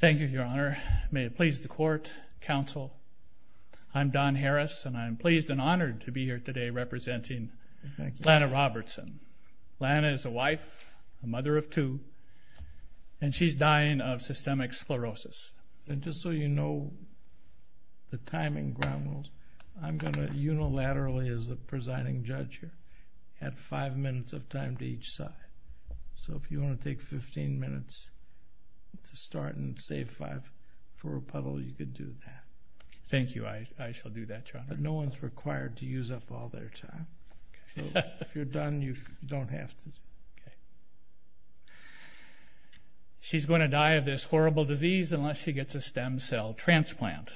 Thank you, Your Honor. May it please the Court, Counsel, I'm Don Harris and I'm pleased and honored to be here today representing Lana Robertson. Lana is a wife, a mother of two, and she's dying of systemic sclerosis. And just so you know, the timing ground rules, I'm going to unilaterally, as the presiding judge here, add five minutes of time to each side. So if you want to take 15 minutes to start and save five for a puddle, you could do that. Thank you. I shall do that, Your Honor. But no one's required to use up all their time. So if you're done, you don't have to. Okay. She's going to die of this horrible disease unless she gets a stem cell transplant.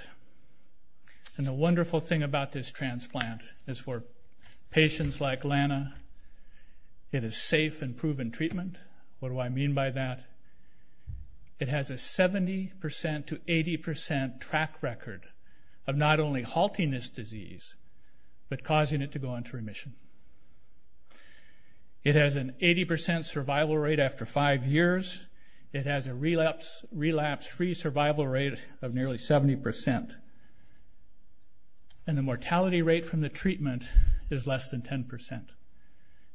And the wonderful thing about this transplant is for patients like Lana, it is safe and proven treatment. What do I mean by that? It has a 70% to 80% track record of not only halting this disease, but causing it to go on to remission. It has an 80% survival rate after five years. It has a relapse-free survival rate of nearly 70%. And the mortality rate from the treatment is less than 10%.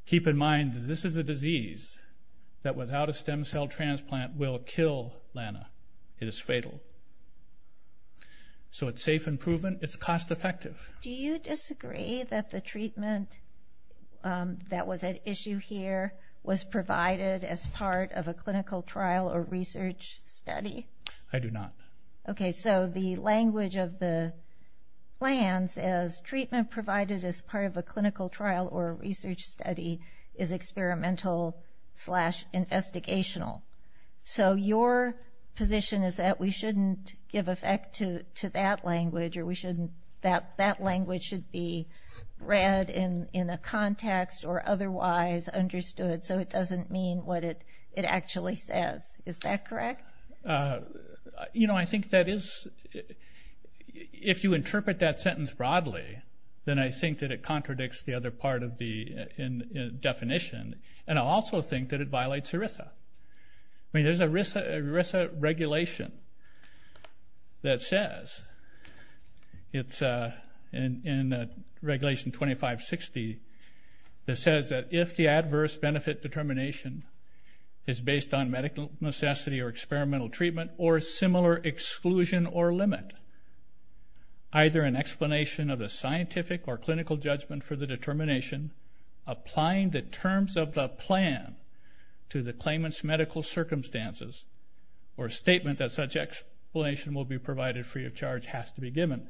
Keep in mind that this is a disease that without a stem cell transplant will kill Lana. It is fatal. So it's safe and proven. It's cost effective. Do you disagree that the treatment that was at issue here was provided as part of a clinical trial or research study? I do not. Okay. So the language of the plans is treatment provided as part of a clinical trial or research study is experimental slash investigational. So your position is that we shouldn't give effect to that language or that language should be read in a context or otherwise understood so it doesn't mean what it actually says. Is that correct? You know, I think that is – if you interpret that sentence broadly, then I think that it contradicts the other part of the definition. And I also think that it violates ERISA. I mean, there's an ERISA regulation that says, it's in Regulation 2560, that says that if the adverse benefit determination is based on medical necessity or experimental treatment or similar exclusion or limit, either an explanation of the scientific or clinical judgment for the determination, applying the terms of the plan to the claimant's medical circumstances or statement that such explanation will be provided free of charge has to be given.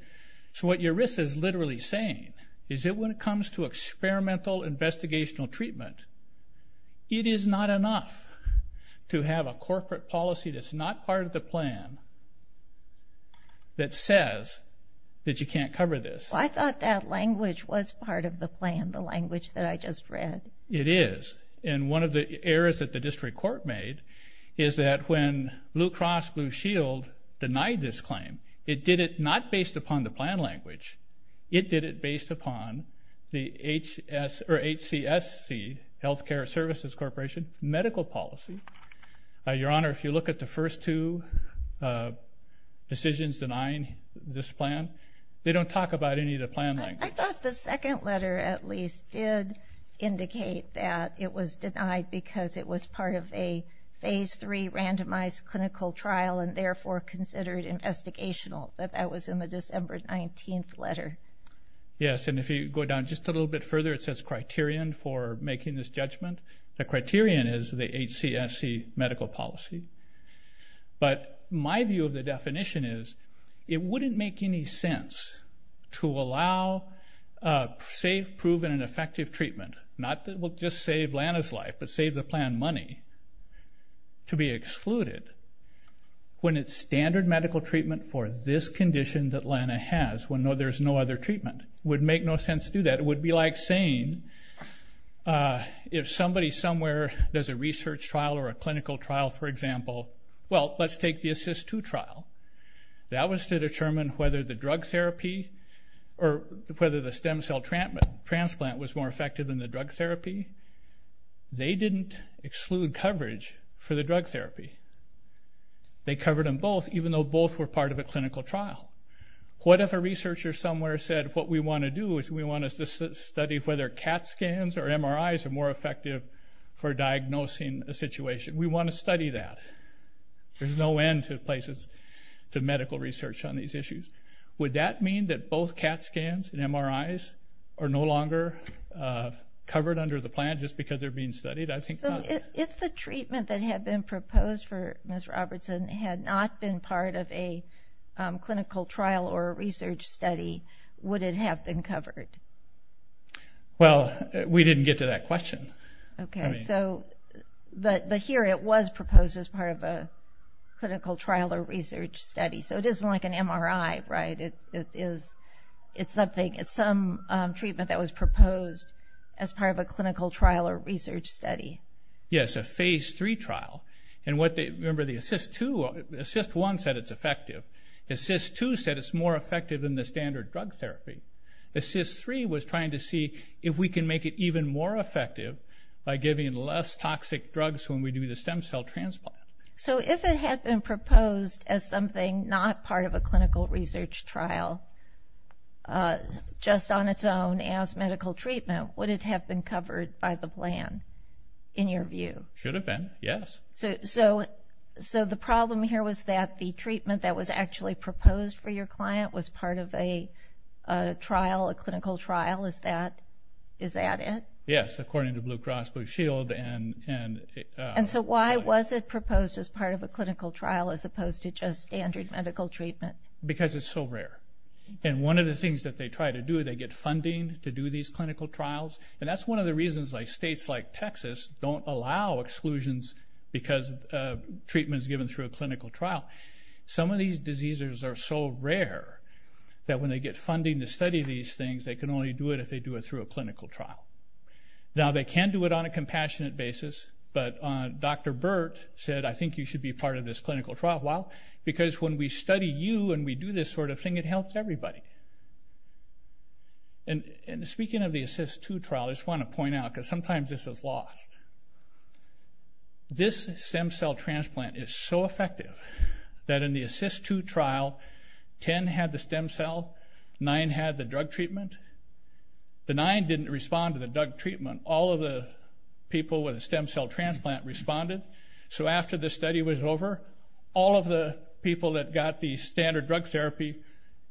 So what ERISA is literally saying is that when it comes to experimental investigational treatment, it is not enough to have a corporate policy that's not part of the plan that says that you can't cover this. I thought that language was part of the plan, the language that I just read. It is. And one of the errors that the district court made is that when Blue Cross Blue Shield denied this claim, it did it not based upon the plan language. It did it based upon the HCSC, Healthcare Services Corporation, medical policy. Your Honor, if you look at the first two decisions denying this plan, they don't talk about any of the plan language. I thought the second letter at least did indicate that it was denied because it was part of a Phase III randomized clinical trial and therefore considered investigational, but that was in the December 19th letter. Yes, and if you go down just a little bit further, it says criterion for making this judgment. The criterion is the HCSC medical policy, but my view of the definition is it wouldn't make any sense to allow safe, proven, and effective treatment, not that it will just save Lana's life, but save the plan money to be excluded when it's standard medical treatment for this condition that Lana has, when there's no other treatment. It would make no sense to do that. It would be like saying if somebody somewhere does a research trial or a clinical trial, for example, well, let's take the ASSIST-2 trial. That was to determine whether the drug therapy or whether the stem cell transplant was more effective than the drug therapy. They didn't exclude coverage for the drug therapy. They covered them both, even though both were part of a clinical trial. What if a researcher somewhere said what we want to do is we want to study whether CAT scans or MRIs are more effective for diagnosing a situation? We want to study that. There's no end to places to medical research on these issues. Would that mean that both CAT scans and MRIs are no longer covered under the plan just because they're being studied? If the treatment that had been proposed for Ms. Robertson had not been part of a clinical trial or a research study, would it have been covered? Well, we didn't get to that question. But here it was proposed as part of a clinical trial or research study. So it isn't like an MRI, right? It's some treatment that was proposed as part of a clinical trial or research study. Yes, a Phase III trial. And remember, the ASSIST-1 said it's effective. ASSIST-2 said it's more effective than the standard drug therapy. ASSIST-3 was trying to see if we can make it even more effective by giving less toxic drugs when we do the stem cell transplant. So if it had been proposed as something not part of a clinical research trial, just on its own as medical treatment, would it have been covered by the plan in your view? It should have been, yes. So the problem here was that the treatment that was actually proposed for your client was part of a trial, a clinical trial. Is that it? Yes, according to Blue Cross Blue Shield. And so why was it proposed as part of a clinical trial as opposed to just standard medical treatment? Because it's so rare. And one of the things that they try to do, they get funding to do these clinical trials. And that's one of the reasons states like Texas don't allow exclusions because treatment is given through a clinical trial. Some of these diseases are so rare that when they get funding to study these things, they can only do it if they do it through a clinical trial. Now they can do it on a compassionate basis, but Dr. Burt said I think you should be part of this clinical trial. Well, because when we study you and we do this sort of thing, it helps everybody. And speaking of the ASSIST-2 trial, I just want to point out, because sometimes this is lost, this stem cell transplant is so effective that in the ASSIST-2 trial, 10 had the stem cell, 9 had the drug treatment. The 9 didn't respond to the drug treatment. All of the people with a stem cell transplant responded. So after the study was over, all of the people that got the standard drug therapy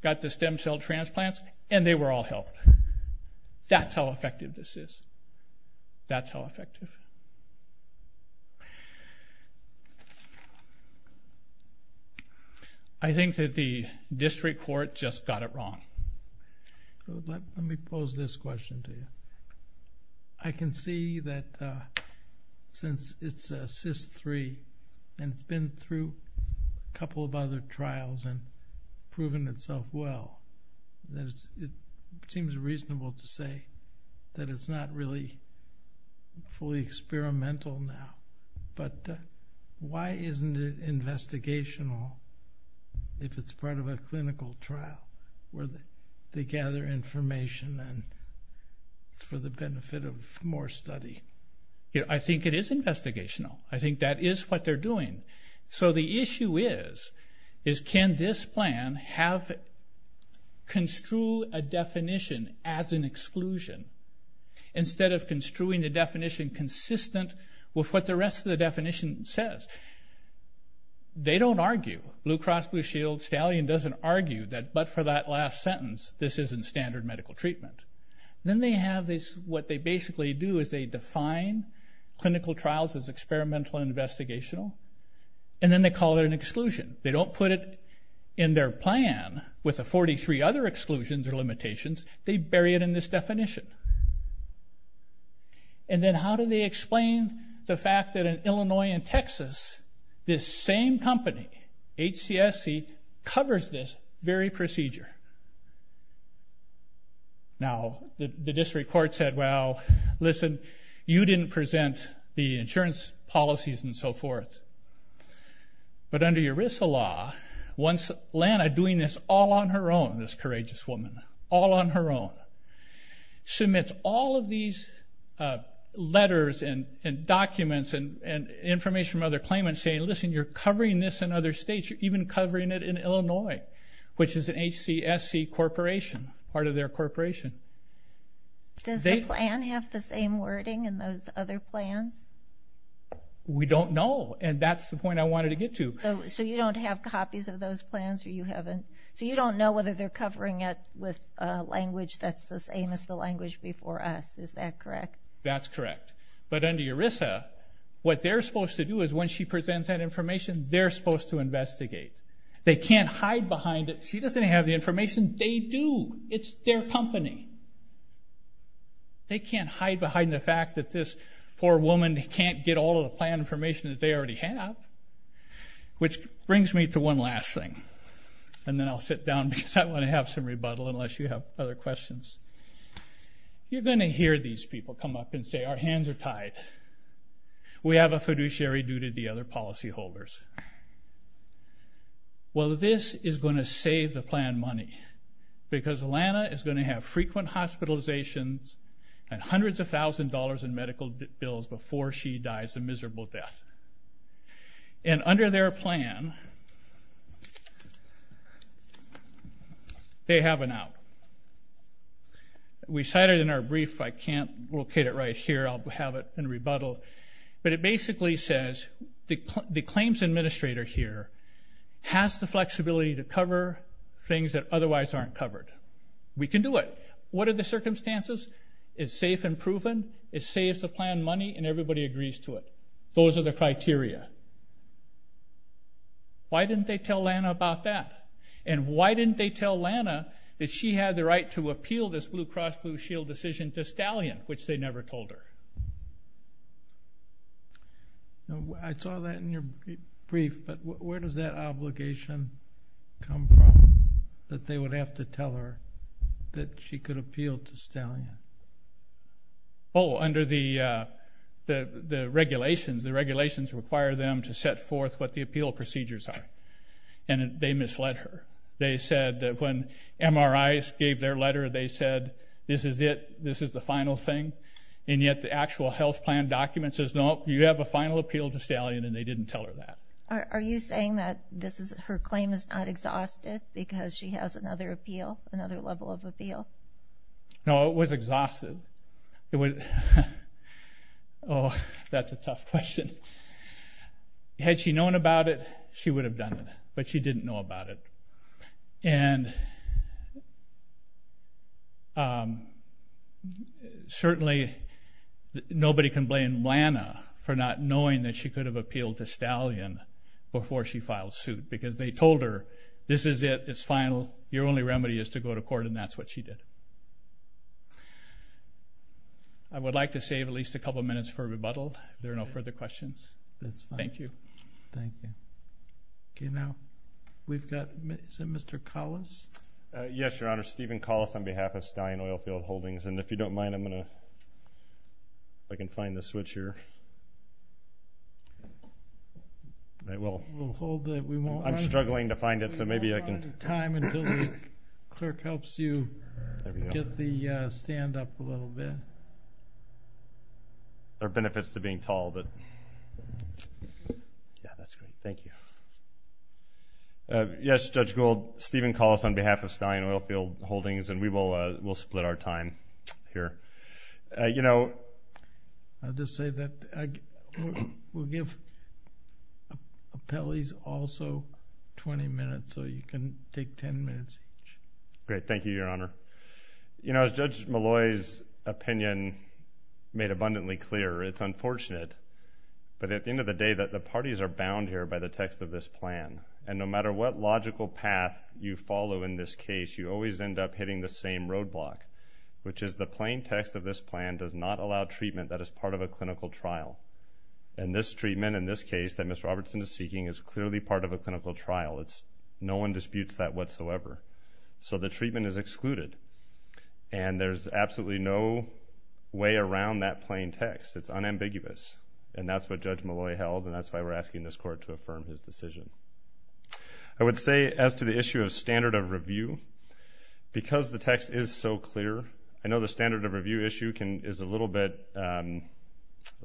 got the stem cell transplants, and they were all helped. That's how effective this is. That's how effective. I think that the district court just got it wrong. Let me pose this question to you. I can see that since it's ASSIST-3 and it's been through a couple of other trials and proven itself well, it seems reasonable to say that it's not really fully experimental now. But why isn't it investigational if it's part of a clinical trial where they gather information and it's for the benefit of more study? I think it is investigational. I think that is what they're doing. So the issue is, is can this plan construe a definition as an exclusion instead of construing the definition consistent with what the rest of the definition says? They don't argue. Blue Cross Blue Shield, Stallion doesn't argue that but for that last sentence, this isn't standard medical treatment. Then they have this, what they basically do is they define clinical trials as experimental and investigational, and then they call it an exclusion. They don't put it in their plan with the 43 other exclusions or limitations. They bury it in this definition. And then how do they explain the fact that in Illinois and Texas, this same company, HCSC, covers this very procedure? Now, the district court said, well, listen, you didn't present the insurance policies and so forth. But under ERISA law, once Lana doing this all on her own, this courageous woman, all on her own, submits all of these letters and documents and information from other claimants saying, listen, you're covering this in other states. You're even covering it in Illinois, which is an HCSC corporation, part of their corporation. Does the plan have the same wording in those other plans? We don't know, and that's the point I wanted to get to. So you don't have copies of those plans or you haven't? So you don't know whether they're covering it with language that's the same as the language before us, is that correct? That's correct. But under ERISA, what they're supposed to do is when she presents that information, they're supposed to investigate. They can't hide behind it. She doesn't have the information. They do. It's their company. They can't hide behind the fact that this poor woman can't get all of the plan information that they already have, which brings me to one last thing. And then I'll sit down because I want to have some rebuttal unless you have other questions. You're going to hear these people come up and say, our hands are tied. We have a fiduciary due to the other policyholders. Well, this is going to save the plan money because Lana is going to have frequent hospitalizations and hundreds of thousands of dollars in medical bills before she dies a miserable death. And under their plan, they have an out. We cite it in our brief. I can't locate it right here. I'll have it in rebuttal. But it basically says the claims administrator here has the flexibility to cover things that otherwise aren't covered. We can do it. What are the circumstances? It's safe and proven. It saves the plan money and everybody agrees to it. Those are the criteria. Why didn't they tell Lana about that? And why didn't they tell Lana that she had the right to appeal this Blue Cross Blue Shield decision to Stallion, which they never told her? I saw that in your brief, but where does that obligation come from, that they would have to tell her that she could appeal to Stallion? Oh, under the regulations. The regulations require them to set forth what the appeal procedures are, and they misled her. They said that when MRIs gave their letter, they said this is it, this is the final thing, and yet the actual health plan document says, nope, you have a final appeal to Stallion, and they didn't tell her that. Are you saying that her claim is not exhausted because she has another appeal, another level of appeal? No, it was exhausted. Oh, that's a tough question. Had she known about it, she would have done it, but she didn't know about it. And certainly nobody can blame Lana for not knowing that she could have appealed to Stallion before she filed suit because they told her this is it, it's final, your only remedy is to go to court, and that's what she did. I would like to save at least a couple minutes for rebuttal if there are no further questions. Thank you. Thank you. Okay, now we've got Mr. Collis. Yes, Your Honor, Stephen Collis on behalf of Stallion Oilfield Holdings, and if you don't mind, I'm going to see if I can find the switch here. We'll hold it. I'm struggling to find it, so maybe I can. We'll hold on to time until the clerk helps you get the stand up a little bit. There are benefits to being tall, but yeah, that's great. Thank you. Yes, Judge Gould, Stephen Collis on behalf of Stallion Oilfield Holdings, and we will split our time here. I'll just say that we'll give appellees also 20 minutes, so you can take 10 minutes each. Great. Thank you, Your Honor. You know, as Judge Malloy's opinion made abundantly clear, it's unfortunate, but at the end of the day, the parties are bound here by the text of this plan, and no matter what logical path you follow in this case, you always end up hitting the same roadblock, which is the plain text of this plan does not allow treatment that is part of a clinical trial, and this treatment in this case that Ms. Robertson is seeking is clearly part of a clinical trial. No one disputes that whatsoever, so the treatment is excluded, and there's absolutely no way around that plain text. It's unambiguous, and that's what Judge Malloy held, and that's why we're asking this Court to affirm his decision. I would say as to the issue of standard of review, because the text is so clear, I know the standard of review issue is a little bit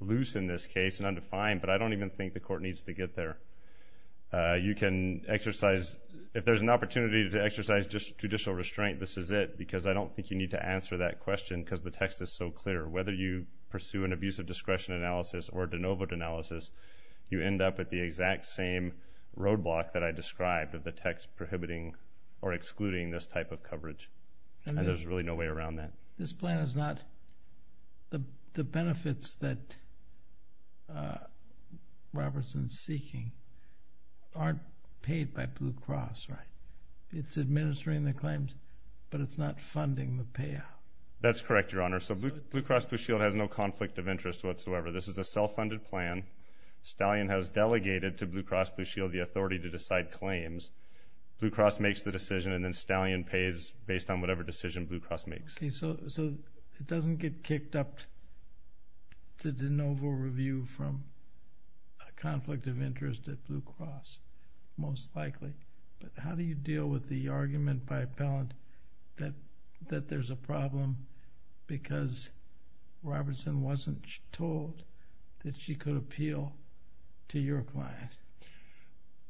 loose in this case and undefined, but I don't even think the Court needs to get there. You can exercise, if there's an opportunity to exercise just judicial restraint, this is it, because I don't think you need to answer that question because the text is so clear. Whether you pursue an abusive discretion analysis or a de novo analysis, you end up at the exact same roadblock that I described of the text prohibiting or excluding this type of coverage, and there's really no way around that. This plan is not – the benefits that Robertson is seeking aren't paid by Blue Cross, right? It's administering the claims, but it's not funding the payout. That's correct, Your Honor. So Blue Cross Blue Shield has no conflict of interest whatsoever. This is a self-funded plan. Stallion has delegated to Blue Cross Blue Shield the authority to decide claims. Blue Cross makes the decision, and then Stallion pays based on whatever decision Blue Cross makes. Okay, so it doesn't get kicked up to de novo review from a conflict of interest at Blue Cross, most likely, but how do you deal with the argument by appellant that there's a problem because Robertson wasn't told that she could appeal to your client?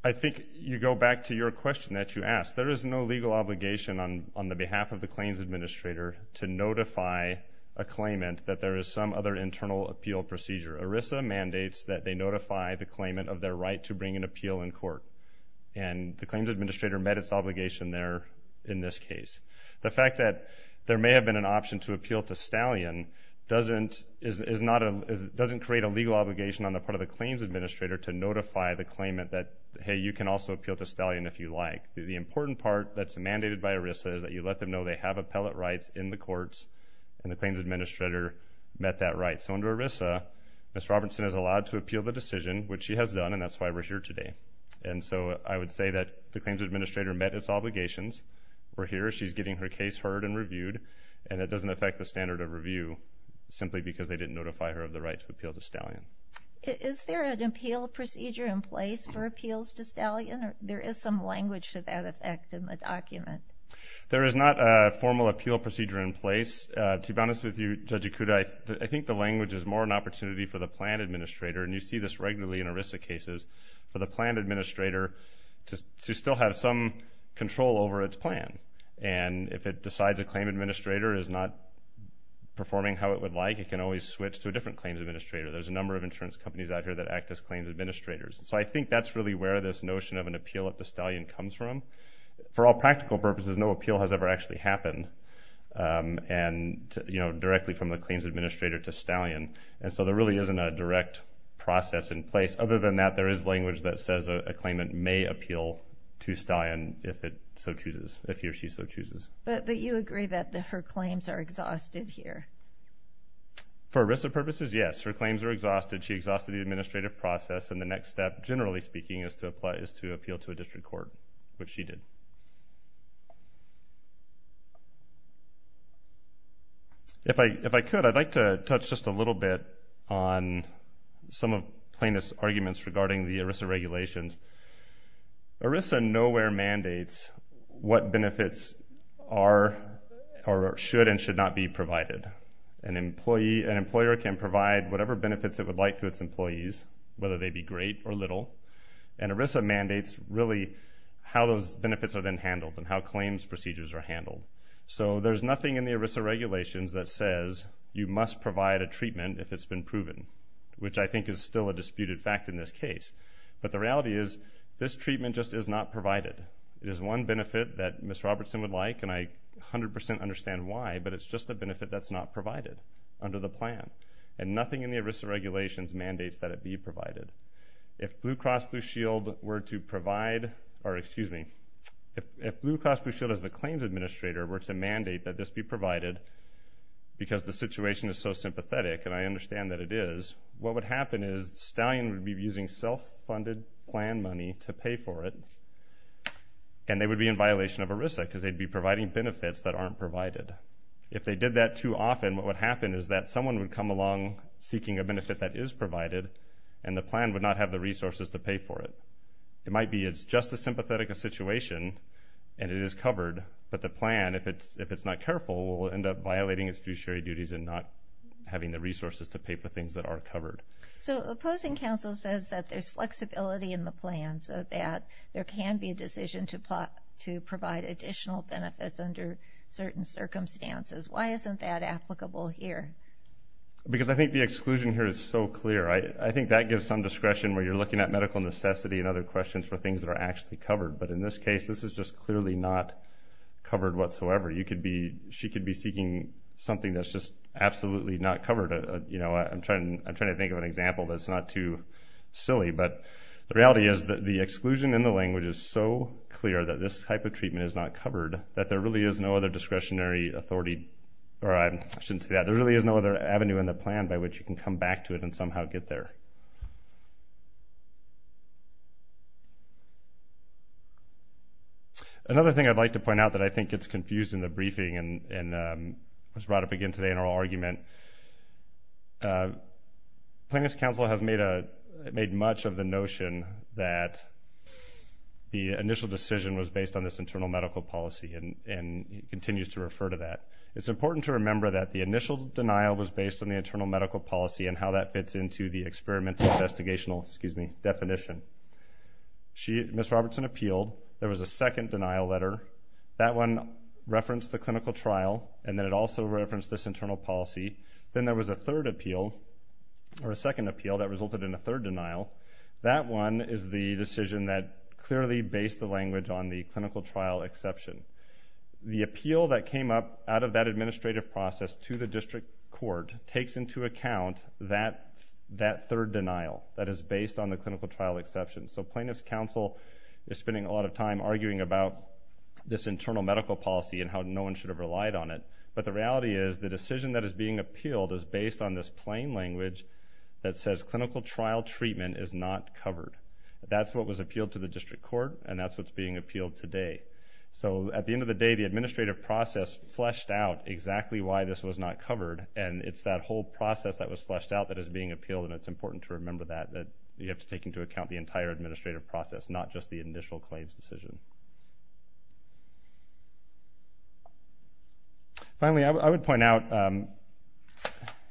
I think you go back to your question that you asked. There is no legal obligation on the behalf of the claims administrator to notify a claimant that there is some other internal appeal procedure. ERISA mandates that they notify the claimant of their right to bring an appeal in court, and the claims administrator met its obligation there in this case. The fact that there may have been an option to appeal to Stallion doesn't create a legal obligation on the part of the claims administrator to notify the claimant that, hey, you can also appeal to Stallion if you like. The important part that's mandated by ERISA is that you let them know they have appellate rights in the courts, and the claims administrator met that right. So under ERISA, Ms. Robertson is allowed to appeal the decision, which she has done, and that's why we're here today. And so I would say that the claims administrator met its obligations. We're here. She's getting her case heard and reviewed, and it doesn't affect the standard of review simply because they didn't notify her of the right to appeal to Stallion. Is there an appeal procedure in place for appeals to Stallion? There is some language to that effect in the document. There is not a formal appeal procedure in place. To be honest with you, Judge Ikuda, I think the language is more an opportunity for the plan administrator, and you see this regularly in ERISA cases, for the plan administrator to still have some control over its plan. And if it decides a claim administrator is not performing how it would like, it can always switch to a different claims administrator. There's a number of insurance companies out here that act as claims administrators. So I think that's really where this notion of an appeal at the Stallion comes from. For all practical purposes, no appeal has ever actually happened directly from the claims administrator to Stallion, and so there really isn't a direct process in place. Other than that, there is language that says a claimant may appeal to Stallion if he or she so chooses. But you agree that her claims are exhausted here? For ERISA purposes, yes. Her claims are exhausted. She exhausted the administrative process, and the next step, generally speaking, is to appeal to a district court, which she did. If I could, I'd like to touch just a little bit on some of Plaintiff's arguments regarding the ERISA regulations. ERISA nowhere mandates what benefits are or should and should not be provided. An employer can provide whatever benefits it would like to its employees, whether they be great or little, and ERISA mandates really how those benefits are then handled and how claims procedures are handled. So there's nothing in the ERISA regulations that says you must provide a treatment if it's been proven, which I think is still a disputed fact in this case. But the reality is this treatment just is not provided. It is one benefit that Ms. Robertson would like, and I 100% understand why, but it's just a benefit that's not provided under the plan, and nothing in the ERISA regulations mandates that it be provided. If Blue Cross Blue Shield were to provide or, excuse me, if Blue Cross Blue Shield as the claims administrator were to mandate that this be provided, because the situation is so sympathetic, and I understand that it is, what would happen is Stallion would be using self-funded plan money to pay for it, and they would be in violation of ERISA because they'd be providing benefits that aren't provided. If they did that too often, what would happen is that someone would come along seeking a benefit that is provided, and the plan would not have the resources to pay for it. It might be it's just as sympathetic a situation, and it is covered, but the plan, if it's not careful, will end up violating its fiduciary duties and not having the resources to pay for things that are covered. So opposing counsel says that there's flexibility in the plan so that there can be a decision to provide additional benefits under certain circumstances. Why isn't that applicable here? Because I think the exclusion here is so clear. I think that gives some discretion where you're looking at medical necessity and other questions for things that are actually covered, but in this case this is just clearly not covered whatsoever. She could be seeking something that's just absolutely not covered. I'm trying to think of an example that's not too silly, but the reality is that the exclusion in the language is so clear that this type of treatment is not covered, that there really is no other discretionary authority, or I shouldn't say that, there really is no other avenue in the plan by which you can come back to it and somehow get there. Another thing I'd like to point out that I think gets confused in the briefing and was brought up again today in our argument, plaintiff's counsel has made much of the notion that the initial decision was based on this internal medical policy and continues to refer to that. It's important to remember that the initial denial was based on the internal medical policy and how that fits into the experimental investigational definition. Ms. Robertson appealed. There was a second denial letter. That one referenced the clinical trial, and then it also referenced this internal policy. Then there was a third appeal, or a second appeal that resulted in a third denial. That one is the decision that clearly based the language on the clinical trial exception. The appeal that came up out of that administrative process to the district court takes into account that third denial that is based on the clinical trial exception. So plaintiff's counsel is spending a lot of time arguing about this internal medical policy and how no one should have relied on it, but the reality is the decision that is being appealed is based on this plain language that says clinical trial treatment is not covered. That's what was appealed to the district court, and that's what's being appealed today. So at the end of the day, the administrative process fleshed out exactly why this was not covered, and it's that whole process that was fleshed out that is being appealed, and it's important to remember that you have to take into account the entire administrative process, not just the initial claims decision. Finally, I would point out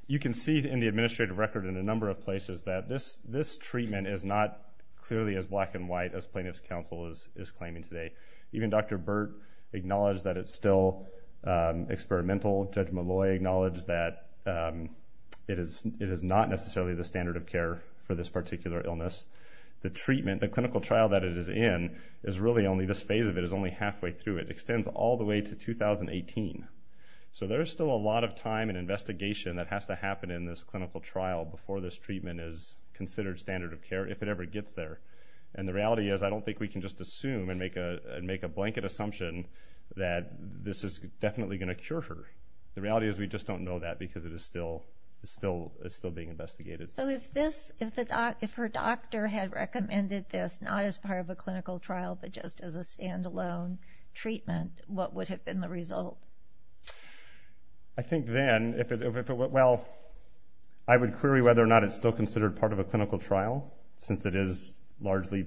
you can see in the administrative record in a number of places that this treatment is not clearly as black and white as plaintiff's counsel is claiming today. Even Dr. Burt acknowledged that it's still experimental. Judge Malloy acknowledged that it is not necessarily the standard of care for this particular illness. The treatment, the clinical trial that it is in is really only this phase of it is only halfway through. It extends all the way to 2018. So there is still a lot of time and investigation that has to happen in this clinical trial before this treatment is considered standard of care, if it ever gets there. And the reality is I don't think we can just assume and make a blanket assumption that this is definitely going to cure her. The reality is we just don't know that because it is still being investigated. So if her doctor had recommended this not as part of a clinical trial but just as a standalone treatment, what would have been the result? I think then, well, I would query whether or not it's still considered part of a clinical trial since it is largely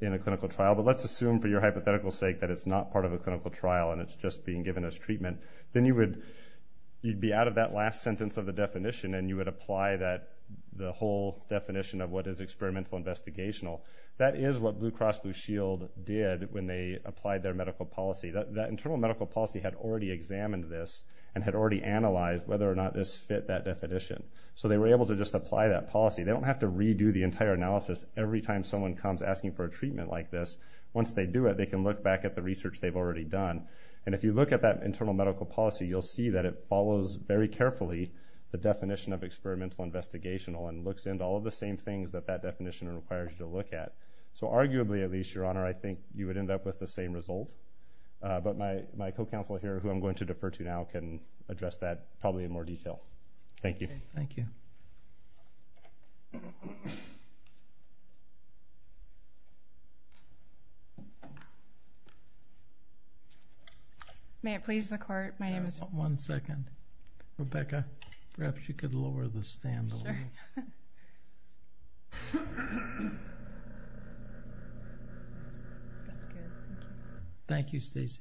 in a clinical trial. But let's assume for your hypothetical sake that it's not part of a clinical trial and it's just being given as treatment. Then you would be out of that last sentence of the definition and you would apply the whole definition of what is experimental investigational. That is what Blue Cross Blue Shield did when they applied their medical policy. That internal medical policy had already examined this and had already analyzed whether or not this fit that definition. So they were able to just apply that policy. They don't have to redo the entire analysis every time someone comes asking for a treatment like this. Once they do it, they can look back at the research they've already done. And if you look at that internal medical policy, you'll see that it follows very carefully the definition of experimental investigational and looks into all of the same things that that definition requires you to look at. So arguably, at least, Your Honor, I think you would end up with the same result. But my co-counsel here, who I'm going to defer to now, can address that probably in more detail. Thank you. Thank you. May it please the Court. My name is... One second. Rebecca, perhaps you could lower the stand a little. Sure. Thank you, Stacy.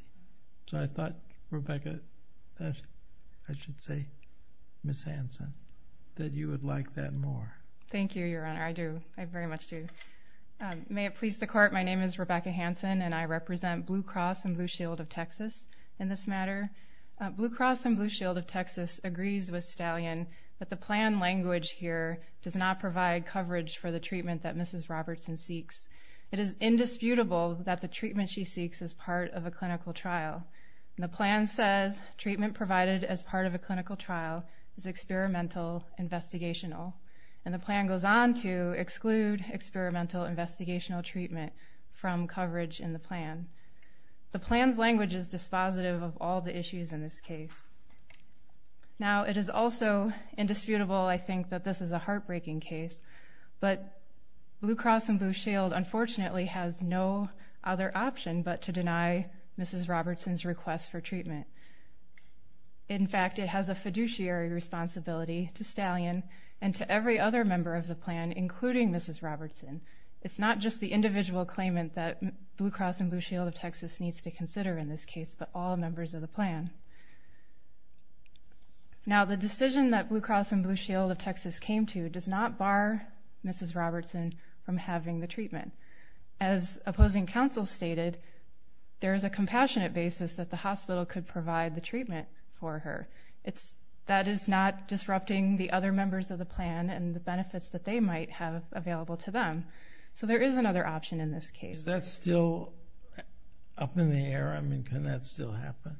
So I thought, Rebecca, I should say, Ms. Hanson, that you would like that more. Thank you, Your Honor. I do. I very much do. May it please the Court. My name is Rebecca Hanson, and I represent Blue Cross and Blue Shield of Texas in this matter. Blue Cross and Blue Shield of Texas agrees with Stallion that the plan language here does not provide coverage for the treatment that Mrs. Robertson seeks. It is indisputable that the treatment she seeks is part of a clinical trial. And the plan says treatment provided as part of a clinical trial is experimental investigational. And the plan goes on to exclude experimental investigational treatment from coverage in the plan. The plan's language is dispositive of all the issues in this case. Now, it is also indisputable, I think, that this is a heartbreaking case, but Blue Cross and Blue Shield, unfortunately, has no other option but to deny Mrs. Robertson's request for treatment. In fact, it has a fiduciary responsibility to Stallion and to every other member of the plan, including Mrs. Robertson. It's not just the individual claimant that Blue Cross and Blue Shield of Texas needs to consider in this case, but all members of the plan. Now, the decision that Blue Cross and Blue Shield of Texas came to does not bar Mrs. Robertson from having the treatment. As opposing counsel stated, there is a compassionate basis that the hospital could provide the treatment for her. That is not disrupting the other members of the plan and the benefits that they might have available to them. So there is another option in this case. Is that still up in the air? I mean, can that still happen?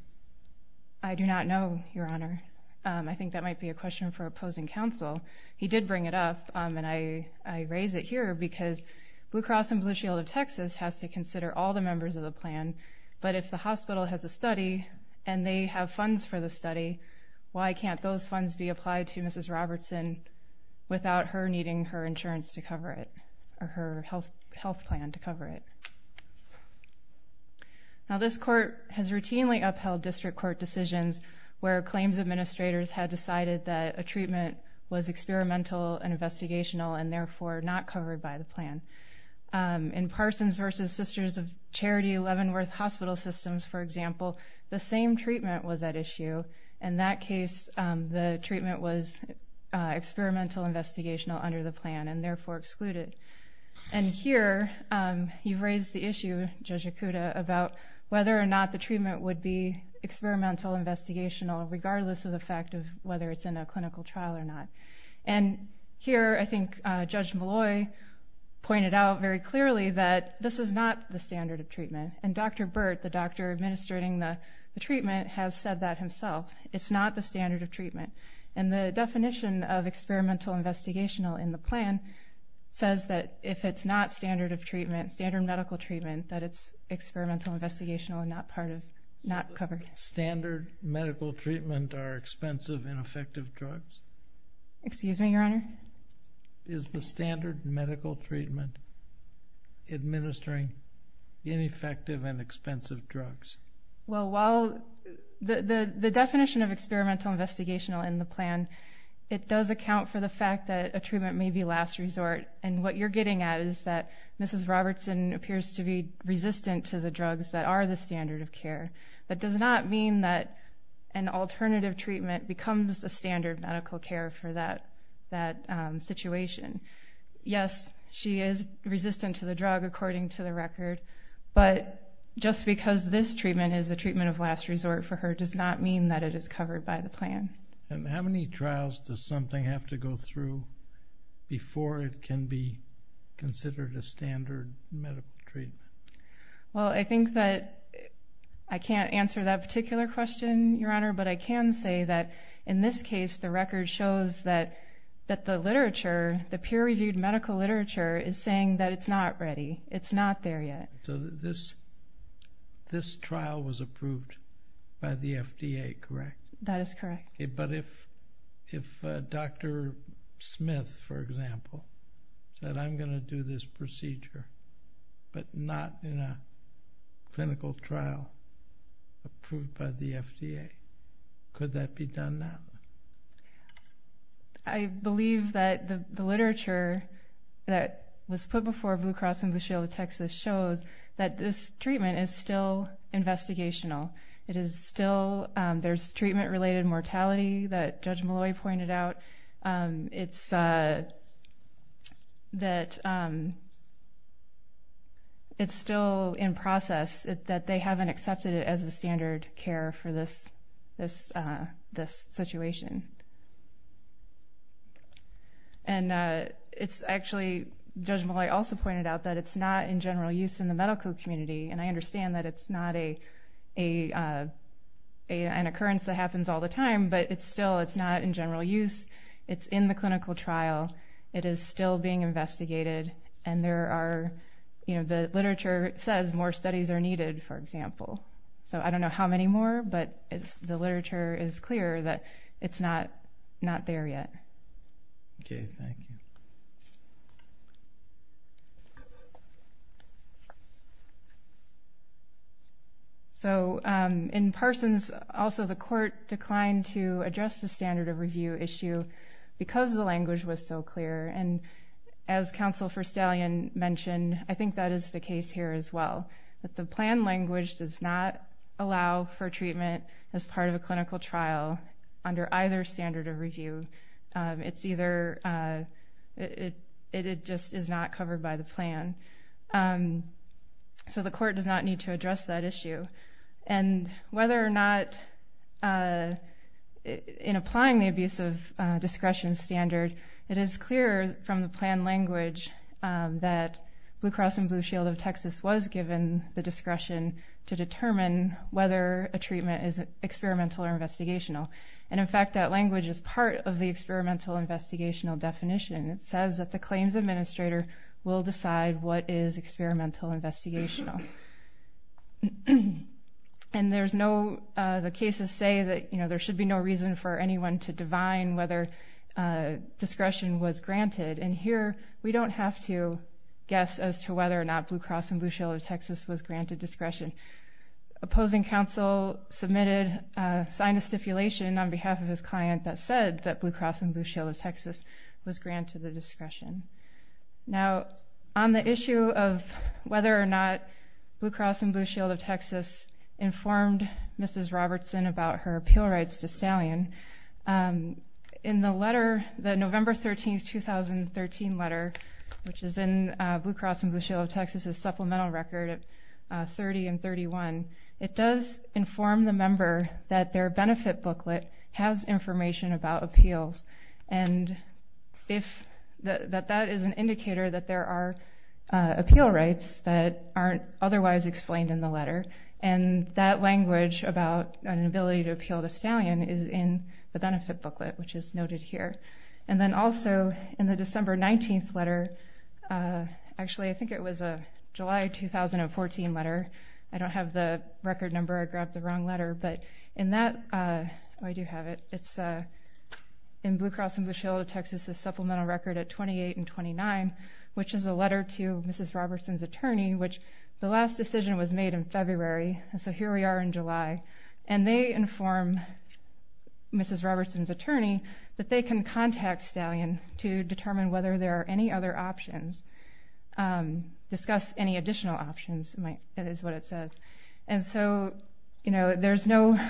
I do not know, Your Honor. I think that might be a question for opposing counsel. He did bring it up, and I raise it here because Blue Cross and Blue Shield of Texas has to consider all the members of the plan, but if the hospital has a study and they have funds for the study, why can't those funds be applied to Mrs. Robertson without her needing her insurance to cover it or her health plan to cover it? Now, this court has routinely upheld district court decisions where claims administrators had decided that a treatment was experimental and investigational and therefore not covered by the plan. In Parsons v. Sisters of Charity Leavenworth Hospital Systems, for example, the same treatment was at issue. In that case, the treatment was experimental, investigational under the plan and therefore excluded. And here you've raised the issue, Judge Yakuta, about whether or not the treatment would be experimental, investigational regardless of the fact of whether it's in a clinical trial or not. And here I think Judge Malloy pointed out very clearly that this is not the standard of treatment, and Dr. Burt, the doctor administrating the treatment, has said that himself. It's not the standard of treatment. And the definition of experimental, investigational in the plan says that if it's not standard of treatment, standard medical treatment, that it's experimental, investigational and not covered. Standard medical treatment are expensive, ineffective drugs? Excuse me, Your Honor? Is the standard medical treatment administering ineffective and expensive drugs? Well, while the definition of experimental, investigational in the plan, it does account for the fact that a treatment may be last resort. And what you're getting at is that Mrs. Robertson appears to be resistant to the drugs that are the standard of care. That does not mean that an alternative treatment becomes the standard medical care for that situation. Yes, she is resistant to the drug according to the record, but just because this treatment is the treatment of last resort for her does not mean that it is covered by the plan. And how many trials does something have to go through before it can be considered a standard medical treatment? Well, I think that I can't answer that particular question, Your Honor, but I can say that in this case the record shows that the literature, the peer-reviewed medical literature is saying that it's not ready. It's not there yet. So this trial was approved by the FDA, correct? That is correct. But if Dr. Smith, for example, said, I'm going to do this procedure but not in a clinical trial approved by the FDA, could that be done now? I believe that the literature that was put before Blue Cross and Blue Shield of Texas shows that this treatment is still investigational. It is still there's treatment-related mortality that Judge Molloy pointed out. It's that it's still in process, that they haven't accepted it as the standard care for this situation. And it's actually, Judge Molloy also pointed out that it's not in general use in the medical community, and I understand that it's not an occurrence that happens all the time, but still it's not in general use. It's in the clinical trial. It is still being investigated, and the literature says more studies are needed, for example. So I don't know how many more, but the literature is clear that it's not there yet. Okay, thank you. So in Parsons, also the court declined to address the standard of review issue because the language was so clear, and as Counselor Verstallian mentioned, I think that is the case here as well, that the plan language does not allow for treatment as part of a clinical trial under either standard of review. It's either it just is not covered by the plan. So the court does not need to address that issue. And whether or not in applying the abuse of discretion standard, it is clear from the plan language that Blue Cross and Blue Shield of Texas was given the discretion to determine whether a treatment is experimental or investigational. And, in fact, that language is part of the experimental-investigational definition. It says that the claims administrator will decide what is experimental-investigational. And the cases say that there should be no reason for anyone to divine whether discretion was granted, and here we don't have to guess as to whether or not Blue Cross and Blue Shield of Texas was granted discretion. Opposing counsel submitted a sign of stipulation on behalf of his client that said that Blue Cross and Blue Shield of Texas was granted the discretion. Now, on the issue of whether or not Blue Cross and Blue Shield of Texas informed Mrs. Robertson about her appeal rights to Stallion, in the letter, the November 13, 2013 letter, which is in Blue Cross and Blue Shield of Texas's supplemental record of 30 and 31, it does inform the member that their benefit booklet has information about appeals and that that is an indicator that there are appeal rights that aren't otherwise explained in the letter. And that language about an ability to appeal to Stallion is in the benefit booklet, which is noted here. And then also in the December 19 letter, actually, I think it was a July 2014 letter. I don't have the record number. I grabbed the wrong letter. But in that, oh, I do have it. It's in Blue Cross and Blue Shield of Texas's supplemental record at 28 and 29, which is a letter to Mrs. Robertson's attorney, which the last decision was made in February, and so here we are in July. And they inform Mrs. Robertson's attorney that they can contact Stallion to determine whether there are any other options, discuss any additional options, is what it says. And so, you know,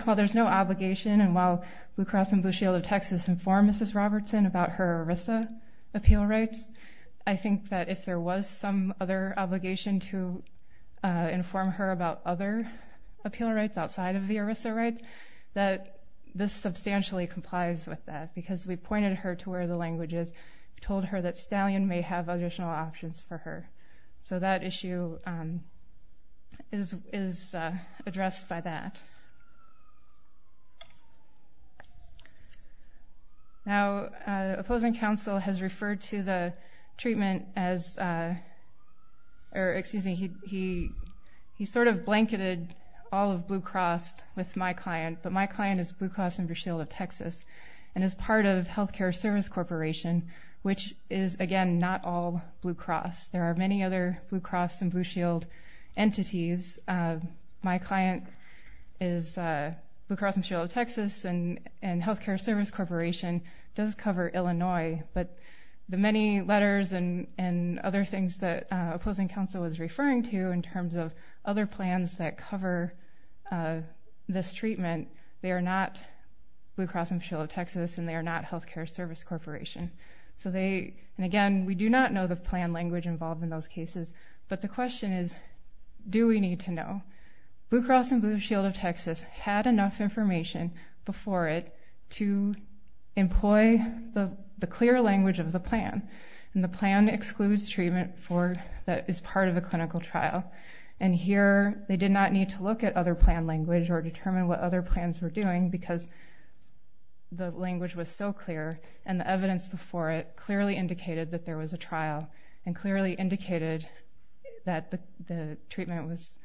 while there's no obligation, and while Blue Cross and Blue Shield of Texas informed Mrs. Robertson about her ERISA appeal rights, I think that if there was some other obligation to inform her about other appeal rights outside of the ERISA rights, that this substantially complies with that because we pointed her to where the language is, told her that Stallion may have additional options for her. So that issue is addressed by that. Now, opposing counsel has referred to the treatment as, or excuse me, he sort of blanketed all of Blue Cross with my client, but my client is Blue Cross and Blue Shield of Texas and is part of Healthcare Service Corporation, which is, again, not all Blue Cross. There are many other Blue Cross and Blue Shield entities. My client is Blue Cross and Blue Shield of Texas, and Healthcare Service Corporation does cover Illinois, but the many letters and other things that opposing counsel was referring to in terms of other plans that cover this treatment, they are not Blue Cross and Blue Shield of Texas, and they are not Healthcare Service Corporation. So they, and again, we do not know the plan language involved in those cases, but the question is, do we need to know? Blue Cross and Blue Shield of Texas had enough information before it to employ the clear language of the plan, and the plan excludes treatment that is part of a clinical trial, and here they did not need to look at other plan language or determine what other plans were doing because the language was so clear, and the evidence before it clearly indicated that there was a trial and clearly indicated that the treatment was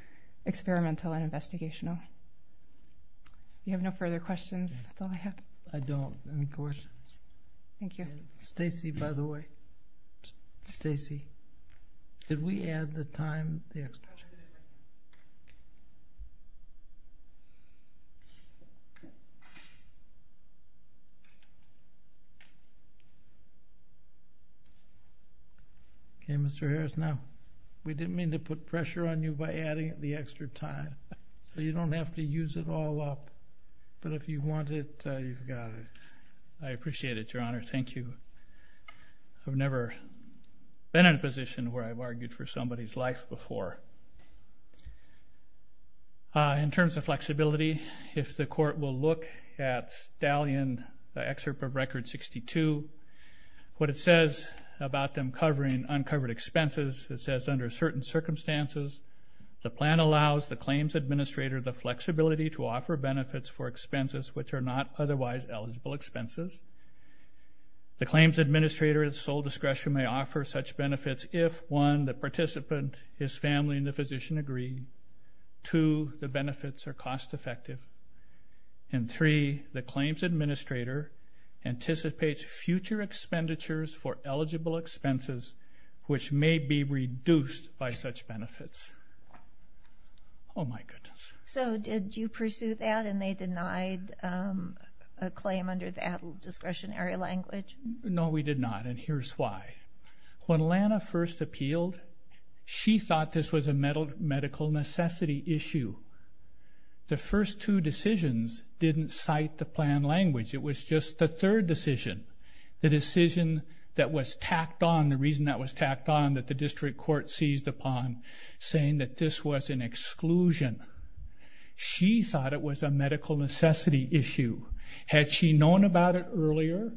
experimental and investigational. Do you have no further questions? That's all I have. I don't. Any questions? Thank you. Stacy, by the way, Stacy, did we add the time? Okay, Mr. Harris, now, we didn't mean to put pressure on you by adding the extra time, so you don't have to use it all up, but if you want it, you've got it. I appreciate it, Your Honor. Thank you. I've never been in a position where I've argued for somebody's life before. In terms of flexibility, if the court will look at Stallion, the excerpt of Record 62, what it says about them covering uncovered expenses, it says, under certain circumstances, the plan allows the claims administrator the flexibility to offer benefits for expenses which are not otherwise eligible expenses. The claims administrator at sole discretion may offer such benefits if, one, the participant, his family, and the physician agree, two, the benefits are cost effective, and three, the claims administrator anticipates future expenditures for eligible expenses which may be reduced by such benefits. Oh, my goodness. So did you pursue that and they denied a claim under that discretionary language? No, we did not, and here's why. When Lana first appealed, she thought this was a medical necessity issue. The first two decisions didn't cite the plan language. It was just the third decision, the decision that was tacked on, the reason that was tacked on that the district court seized upon, saying that this was an exclusion. She thought it was a medical necessity issue. Had she known about it earlier,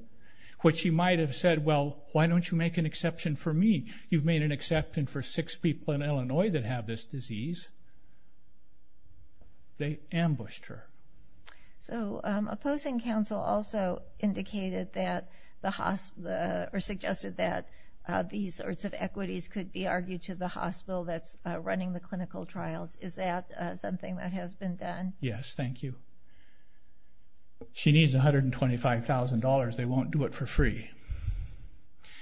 what she might have said, well, why don't you make an exception for me? You've made an exception for six people in Illinois that have this disease. They ambushed her. So opposing counsel also indicated that the hospital, or suggested that these sorts of equities could be argued to the hospital that's running the clinical trials. Is that something that has been done? Yes, thank you. She needs $125,000. They won't do it for free.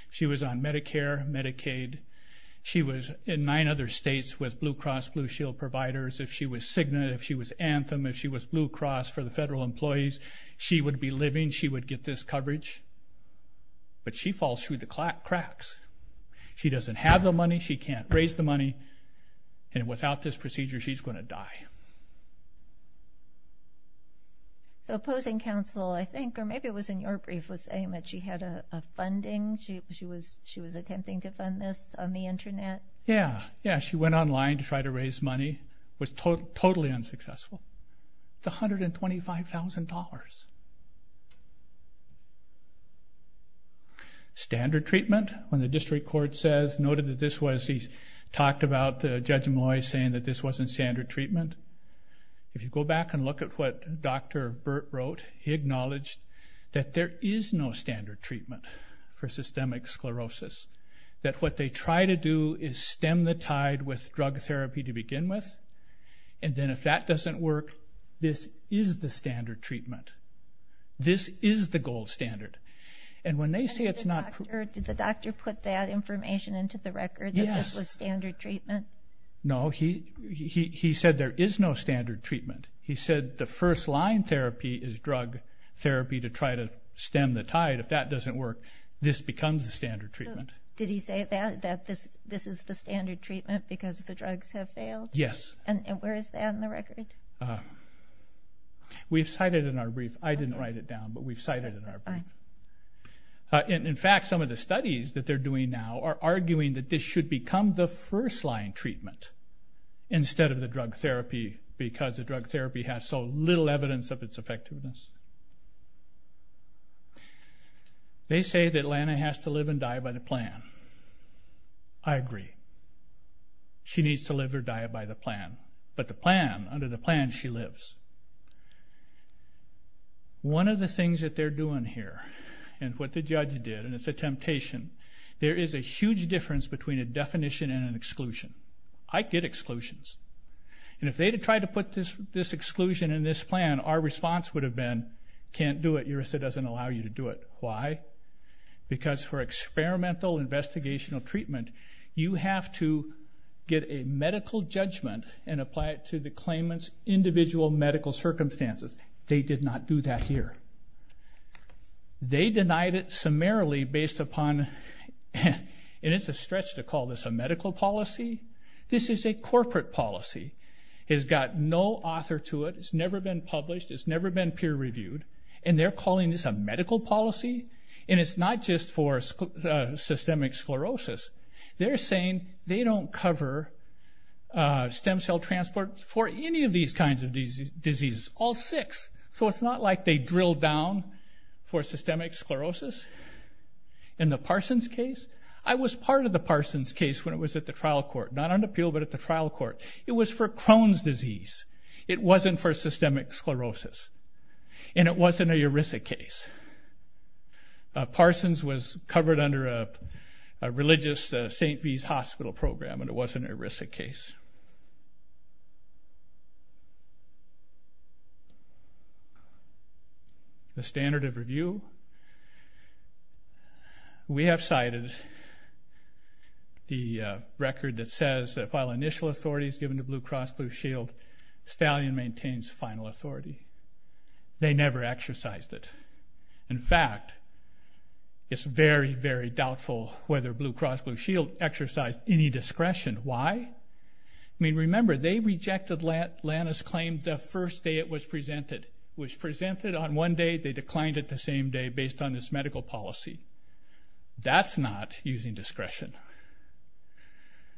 She was on Medicare, Medicaid. She was in nine other states with Blue Cross Blue Shield providers. If she was Cigna, if she was Anthem, if she was Blue Cross for the federal employees, she would be living, she would get this coverage. But she falls through the cracks. She doesn't have the money, she can't raise the money, and without this procedure she's going to die. So opposing counsel, I think, or maybe it was in your brief, was saying that she had a funding, she was attempting to fund this on the Internet. Yeah, yeah, she went online to try to raise money. It was totally unsuccessful. It's $125,000. Standard treatment, when the district court says, noted that this was, he talked about Judge Molloy saying that this wasn't standard treatment. If you go back and look at what Dr. Burt wrote, he acknowledged that there is no standard treatment for systemic sclerosis, that what they try to do is stem the tide with drug therapy to begin with, and then if that doesn't work, this is the standard treatment. This is the gold standard. And when they say it's not- Did the doctor put that information into the record, that this was standard treatment? No, he said there is no standard treatment. He said the first line therapy is drug therapy to try to stem the tide. If that doesn't work, this becomes the standard treatment. Did he say that this is the standard treatment because the drugs have failed? Yes. And where is that in the record? We've cited it in our brief. I didn't write it down, but we've cited it in our brief. In fact, some of the studies that they're doing now are arguing that this should become the first-line treatment instead of the drug therapy because the drug therapy has so little evidence of its effectiveness. They say that Lana has to live and die by the plan. I agree. She needs to live or die by the plan. But the plan, under the plan she lives. One of the things that they're doing here, and what the judge did, and it's a temptation, there is a huge difference between a definition and an exclusion. I get exclusions. And if they had tried to put this exclusion in this plan, our response would have been, can't do it. URASA doesn't allow you to do it. Why? Because for experimental investigational treatment, you have to get a medical judgment and apply it to the claimant's individual medical circumstances. They did not do that here. They denied it summarily based upon, and it's a stretch to call this a medical policy. This is a corporate policy. It's got no author to it. It's never been published. It's never been peer-reviewed. And they're calling this a medical policy? And it's not just for systemic sclerosis. They're saying they don't cover stem cell transport for any of these kinds of diseases, all six. So it's not like they drilled down for systemic sclerosis. In the Parsons case, I was part of the Parsons case when it was at the trial court, not on appeal, but at the trial court. It was for Crohn's disease. It wasn't for systemic sclerosis. And it wasn't a ERISA case. Parsons was covered under a religious St. V's hospital program, and it wasn't an ERISA case. The standard of review. We have cited the record that says that while initial authority is given to Blue Cross Blue Shield, Stallion maintains final authority. They never exercised it. In fact, it's very, very doubtful whether Blue Cross Blue Shield exercised any discretion. Why? I mean, remember, they rejected Lana's claim the first day it was presented. It was presented on one day, they declined it the same day, based on this medical policy. That's not using discretion.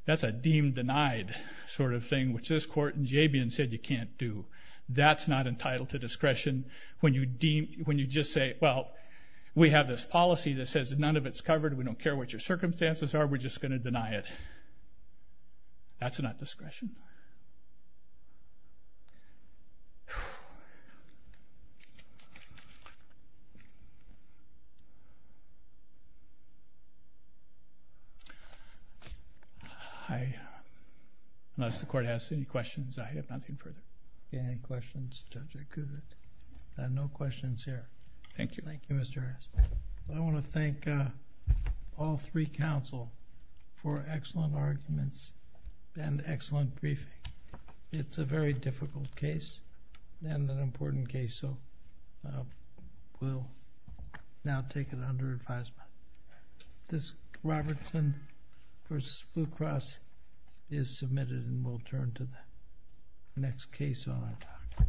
That's a deemed denied sort of thing, which this court in Jabian said you can't do. That's not entitled to discretion. When you just say, well, we have this policy that says none of it's covered, we don't care what your circumstances are, we're just going to deny it. That's not discretion. I don't know if the court has any questions. I have nothing further. If you have any questions, Judge, I could. I have no questions here. Thank you. Thank you, Mr. Ernst. I want to thank all three counsel for excellent arguments and excellent briefing. It's a very difficult case and an important case, so we'll now take it under advisement. This Robertson v. Blue Cross is submitted and we'll turn to the next case on our topic.